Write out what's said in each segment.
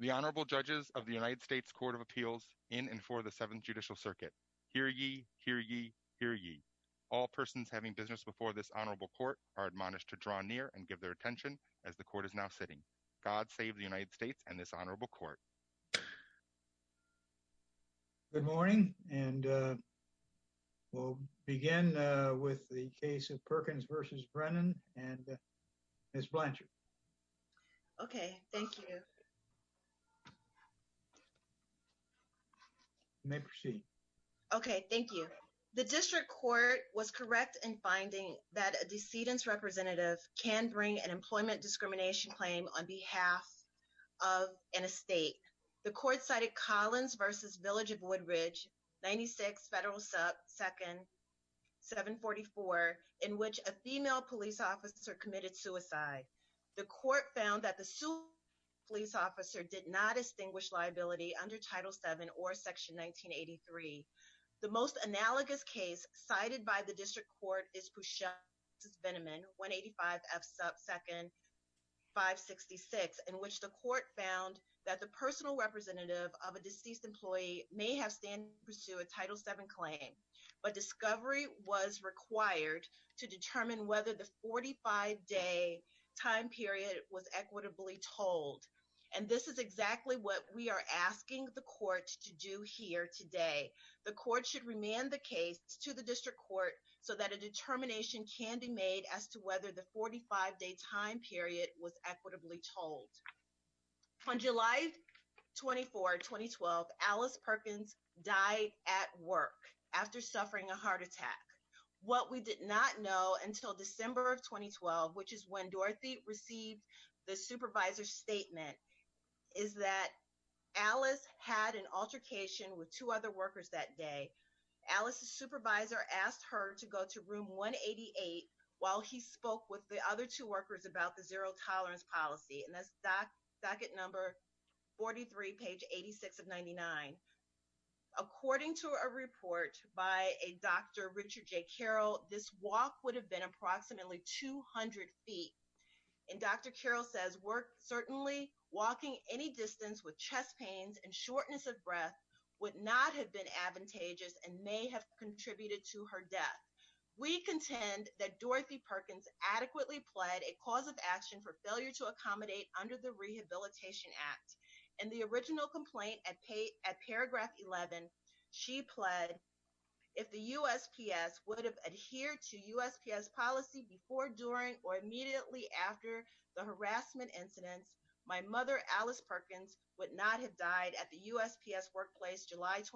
The Honorable Judges of the United States Court of Appeals in and for the Seventh Judicial Circuit. Hear ye, hear ye, hear ye. All persons having business before this honorable court are admonished to draw near and give their attention as the court is now sitting. God save the United States and this honorable court. Good morning and we'll begin with the case of Perkins v. Brennan and Ms. Blanchard. Okay, thank you. You may proceed. Okay, thank you. The district court was correct in finding that a decedent's representative can bring an employment discrimination claim on behalf of an estate. The court cited Collins v. Village of Woodridge, 96 Federal sub 2nd 744, in which a female police officer committed suicide. The court found that the police officer did not distinguish liability under Title VII or Section 1983. The most analogous case cited by the district court is Pusha v. Veneman, 185 F sub 2nd 566, in which the court found that the personal representative of a deceased employee may have pursued a Title VII claim, but discovery was required to determine whether the 45-day time period was equitably told. And this is exactly what we are asking the court to do here today. The court should remand the case to the district court so that a determination can be made as to whether the 45-day time period was equitably told. On July 24, 2012, Alice Perkins died at work after suffering a heart attack. What we did not know until December of 2012, which is when Dorothy received the supervisor's statement, is that Alice had an altercation with two other workers that day. Alice's supervisor asked her to go to room 188 while he spoke with the other two workers about the zero tolerance policy. And that's docket number 43, page 86 of 99. According to a report by a Dr. Richard J. Carroll, this walk would have been approximately 200 feet. And Dr. Carroll says work certainly walking any distance with chest pains and shortness of breath would not have been advantageous and may have contributed to her death. We contend that Dorothy Perkins adequately pled a cause of action for failure to accommodate under the Rehabilitation Act. In the original complaint at paragraph 11, she pled if the USPS would have adhered to USPS policy before, during, or immediately after the harassment incidents, my mother, Alice Perkins, would not have died at the time of the incident.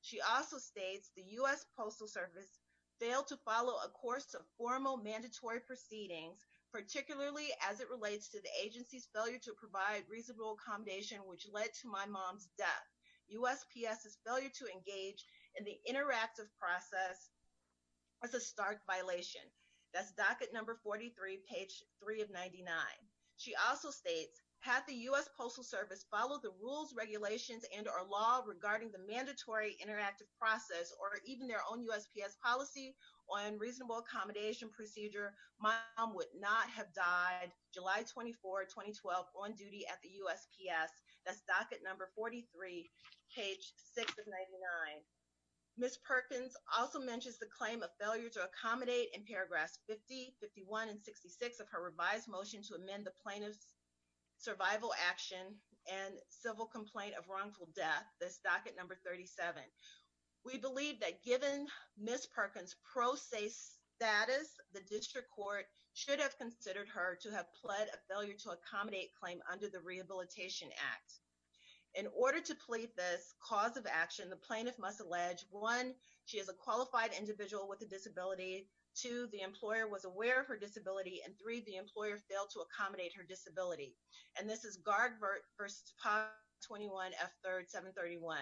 She also states the US Postal Service failed to follow a course of formal mandatory proceedings, particularly as it relates to the agency's failure to provide reasonable accommodation, which led to my mom's death. USPS's failure to engage in the interactive process was a stark violation. That's docket number 43, page 3 of 99. She also states had the US Postal Service followed the rules, regulations, and or law regarding the mandatory interactive process or even their own USPS policy on reasonable accommodation procedure, my mom would not have died July 24, 2012 on duty at the USPS. That's docket number 43, page 6 of 99. Ms. Perkins also mentions the claim of failure to accommodate in paragraphs 50, 51, and 66 of her revised motion to amend the plaintiff's survival action and civil complaint of wrongful death. That's docket number 37. We believe that given Ms. Perkins' pro se status, the district court should have considered her to have pled a failure to accommodate claim under the Rehabilitation Act. In order to plead this cause of action, the plaintiff must allege, one, she is a qualified individual with a disability, two, the employer was aware of her disability, and three, the employer failed to accommodate her disability. And this is Gardvert v. Potts, 21F3rd, 731.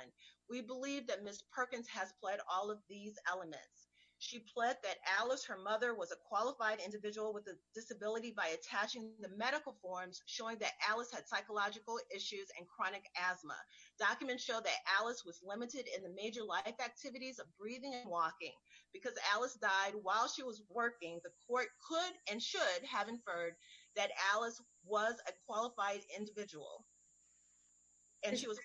We believe that Ms. Perkins has pled all of these elements. She pled that Alice, her mother, was a qualified individual with a disability by attaching the medical forms showing that Alice had psychological issues and chronic asthma. Documents show that Alice was limited in the major life activities of breathing and walking because Alice died while she was working. The court could and should have inferred that Alice was a qualified individual and she was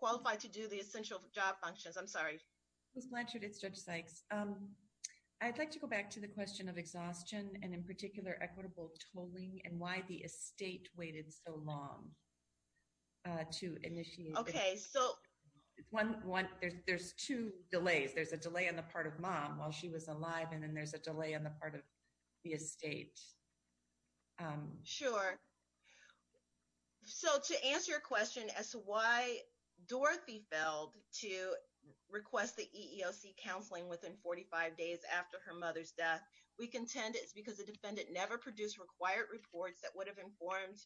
qualified to do the essential job functions. I'm sorry. Ms. Blanchard, it's Judge Sykes. I'd like to go back to the question of exhaustion and in particular equitable tolling and why the estate waited so long to initiate. Okay, so there's two delays. There's a delay on the part of mom while she was alive and then there's a delay on the part of the estate. Sure. So to answer your question as to why Dorothy failed to request the EEOC counseling within 45 days after her mother's death, we contend it's because the defendant never produced required reports that would have informed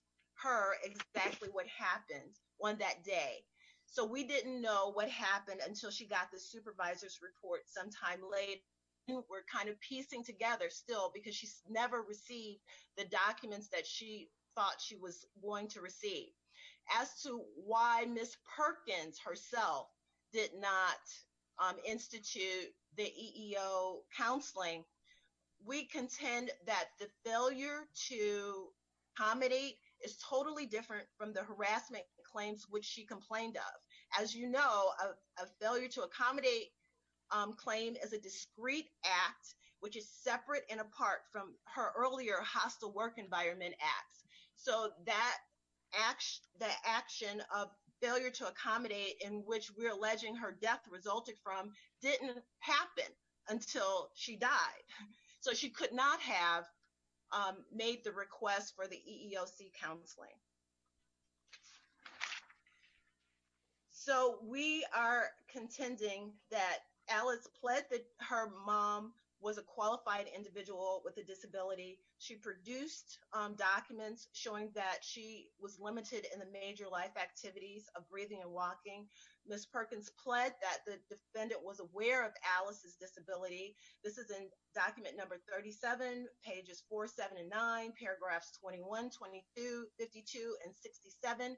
her exactly what happened on that day. So we didn't know what happened until she got the supervisor's report sometime later. We're kind of piecing together still because she's never received the documents that she thought she was going to receive. As to why Ms. Perkins herself did not institute the EEO counseling, we contend that the failure to accommodate is totally different from the harassment claims which she complained of. As you know, a failure to accommodate claim is a discrete act which is separate and apart from her earlier hostile work environment acts. So that action of failure to accommodate in which we're alleging her death resulted from didn't happen until she died. So she could not have made the request for the EEOC counseling. So we are contending that Alice pled that her mom was a qualified individual with a disability. She produced documents showing that she was limited in the major life activities of breathing and walking. Ms. Perkins pled that the defendant was aware of Alice's disability. This is in document number 37, pages 4, 7, and 9, paragraphs 21, 22, 52, and 67.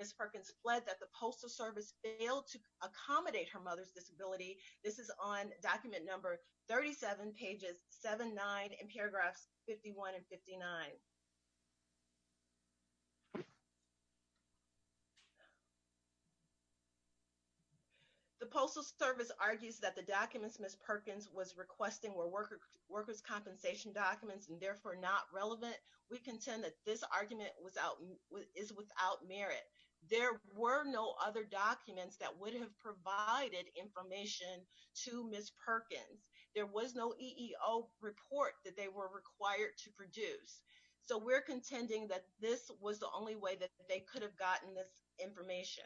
Ms. Perkins pled that the postal service failed to accommodate her mother's disability. This is on document number 37, pages 7, 9, and paragraphs 51 and 59. The postal service argues that the documents Ms. Perkins was requesting were workers' compensation documents and therefore not relevant. We contend that this argument is without merit. There were no other documents that would have provided information to Ms. Perkins. There was no EEO report that they were required to produce. So we're contending that this was the only way that they could have gotten this information.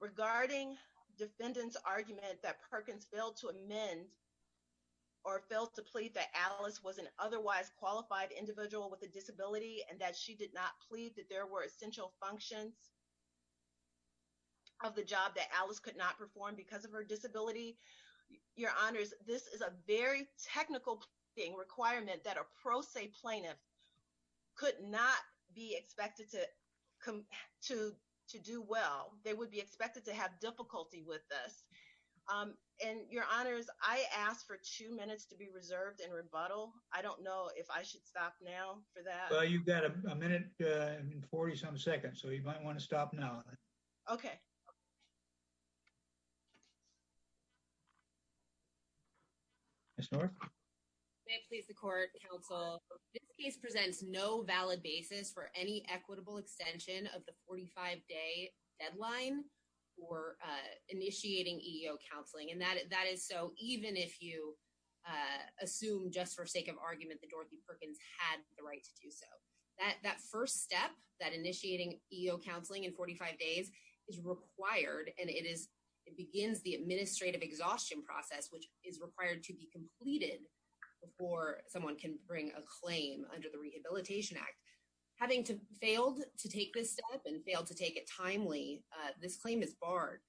Regarding defendant's argument that Perkins failed to amend or failed to plead that Alice was an otherwise qualified individual with a disability and that she did not plead that there were essential functions of the job that Alice could not perform because of her disability, your honors, this is a very technical requirement that a pro se plaintiff could not be expected to do well. They would be expected to have difficulty with this. And your honors, I asked for two minutes to be reserved in rebuttal. I don't know if I should stop now for that. Well, you've got a minute and 40 some seconds, so you might want to stop now. Okay. Ms. North? May it please the court, counsel, this case presents no valid basis for any equitable extension of the 45-day deadline for initiating EEO counseling. And that is so even if you assume just for sake of argument that Dorothy Perkins had the right to do so. That first step, that initiating EEO counseling in 45 days is required. And it begins the administrative exhaustion process, which is required to be completed before someone can bring a claim under the Rehabilitation Act. Having failed to take this step and failed to take it timely, this claim is barred.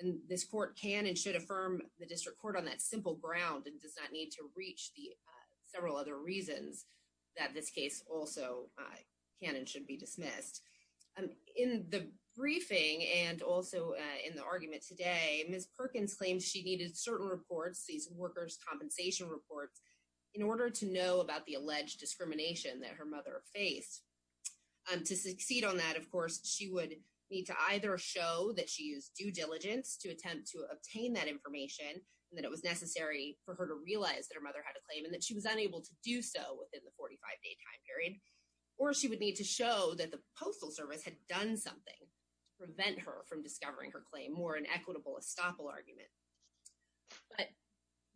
And this court can and should affirm the district court on that simple ground and does not need to reach the several other reasons that this case also can and should be dismissed. In the briefing and also in the argument today, Ms. Perkins claims she needed certain reports, these workers' compensation reports, in order to know about the alleged discrimination that her mother faced. To succeed on that, of course, she would need to either show that she used due diligence to attempt to obtain that information and that it was necessary for her to realize that her mother had a claim and that she was unable to do so within the 45-day time period, or she would need to show that the Postal Service had done something to prevent her from discovering her claim, more an equitable estoppel argument. But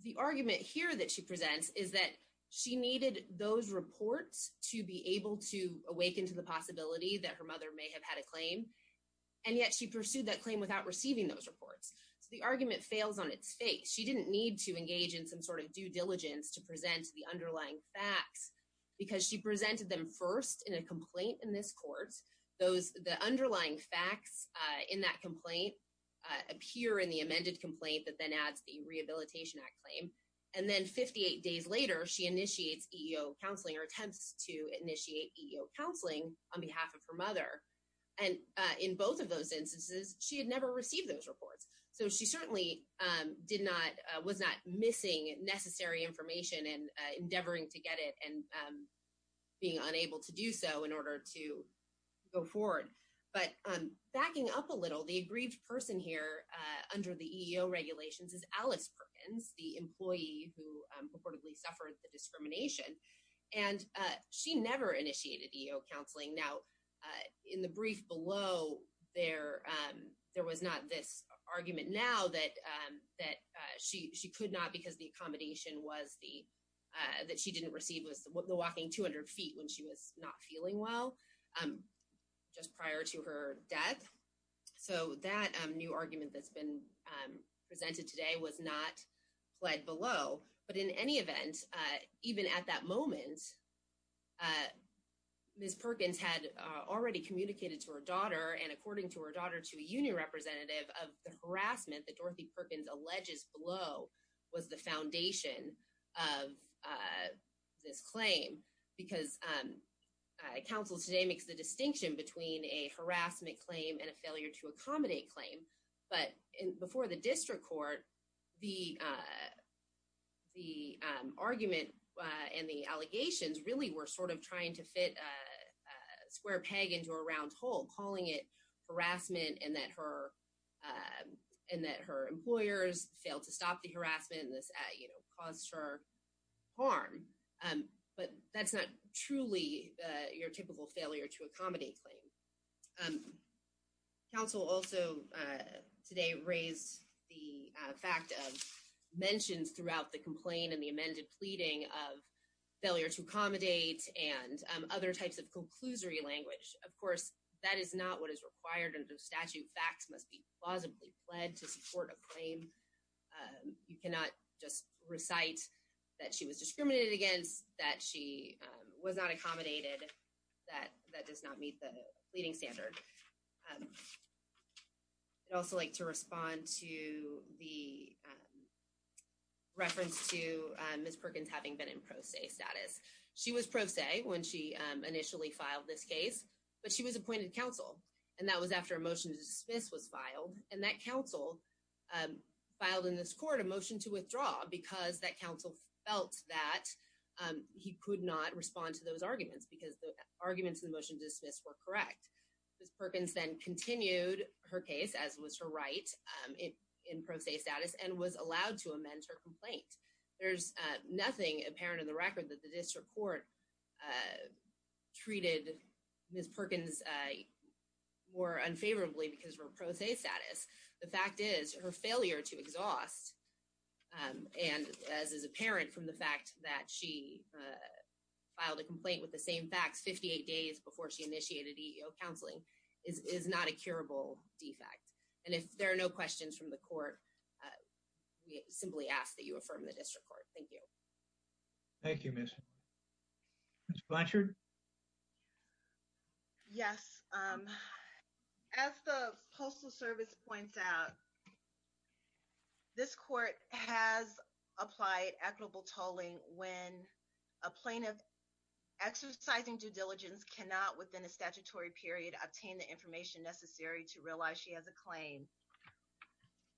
the argument here that she presents is that she needed those reports to be able to awaken to the possibility that her mother may have had a claim, and yet she pursued that claim without receiving those reports. So the argument fails on its face. She didn't need to engage in some sort of due diligence to present the underlying facts because she presented them first in a complaint in this court. The underlying facts in that complaint appear in the amended complaint that then adds the Rehabilitation Act claim. And then 58 days later, she initiates EEO counseling or attempts to initiate EEO counseling on behalf of her mother. And in both of those instances, she had never received those reports. So she certainly was not missing necessary information and endeavoring to get it and being unable to do so in order to go forward. But backing up a little, the aggrieved person here under the EEO regulations is Alice Perkins, the employee who purportedly suffered the discrimination. And she never initiated EEO counseling. Now, in the brief below, there was not this argument now that she could not because the accommodation that she didn't receive was the walking 200 feet when she was not feeling well just prior to her death. So that new argument that's been presented today was not pled below. But in any event, even at that moment, Ms. Perkins had already communicated to her daughter, and according to her daughter, to a union representative of the harassment that Dorothy Perkins alleges below was the foundation of this claim. Because counsel today makes the distinction between a harassment claim and a failure to accommodate claim. But before the district court, the argument and the allegations really were sort of trying to fit a square peg into a round hole, calling it harassment and that her employers failed to stop the harassment and this caused her harm. But that's not truly your typical failure to accommodate claim. Counsel also today raised the fact of mentions throughout the complaint and the amended pleading of failure to accommodate and other types of conclusory language. Of course, that is not what is required under statute. Facts must be plausibly pled to support a claim. You cannot just recite that she was discriminated against, that she was not accommodated, that that does not meet the pleading standard. I'd also like to respond to the reference to Ms. Perkins having been in pro se status. She was pro se when she initially filed this case, but she was appointed counsel. And that was after a motion to dismiss was filed. And that counsel filed in this court a motion to withdraw because that counsel felt that he could not respond to those arguments because the Ms. Perkins then continued her case as was her right in pro se status and was allowed to amend her complaint. There's nothing apparent in the record that the district court treated Ms. Perkins more unfavorably because of her pro se status. The fact is her failure to exhaust and as is apparent from the fact that she filed a complaint with the same facts 58 days before she initiated EEO counseling is not a curable defect. And if there are no questions from the court, we simply ask that you affirm the district court. Thank you. Thank you, Ms. Blanchard. Yes. As the Postal Service points out, this court has applied equitable tolling when a plaintiff exercising due diligence cannot, within a statutory period, obtain the information necessary to realize she has a claim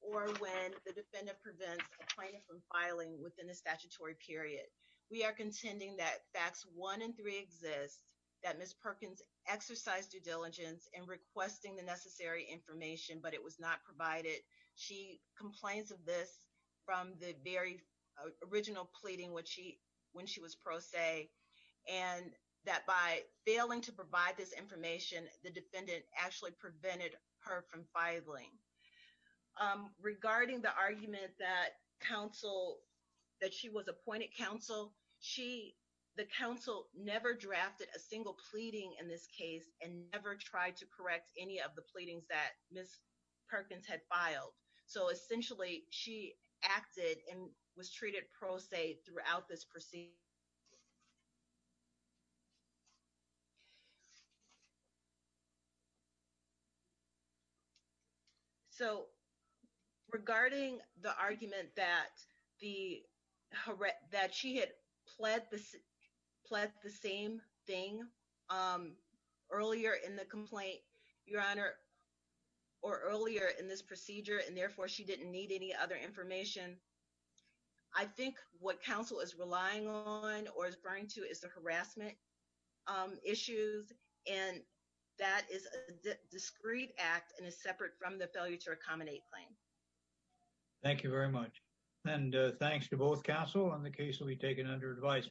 or when the defendant prevents a plaintiff from filing within the statutory period. We are contending that facts one and three exist, that Ms. Perkins exercised due diligence in requesting the necessary information, but it was not provided. She complains of this from the very original pleading when she was pro se and that by failing to provide this information, the defendant actually prevented her from filing. Regarding the argument that she was appointed counsel, the counsel never drafted a single so essentially she acted and was treated pro se throughout this procedure. So regarding the argument that she had pled the same thing earlier in the complaint, Your Honor, or earlier in this procedure, and therefore she didn't need any other information. I think what counsel is relying on or is referring to is the harassment issues. And that is a discreet act and is separate from the failure to accommodate claim. Thank you very much. And thanks to both counsel and the case will be taken under advice.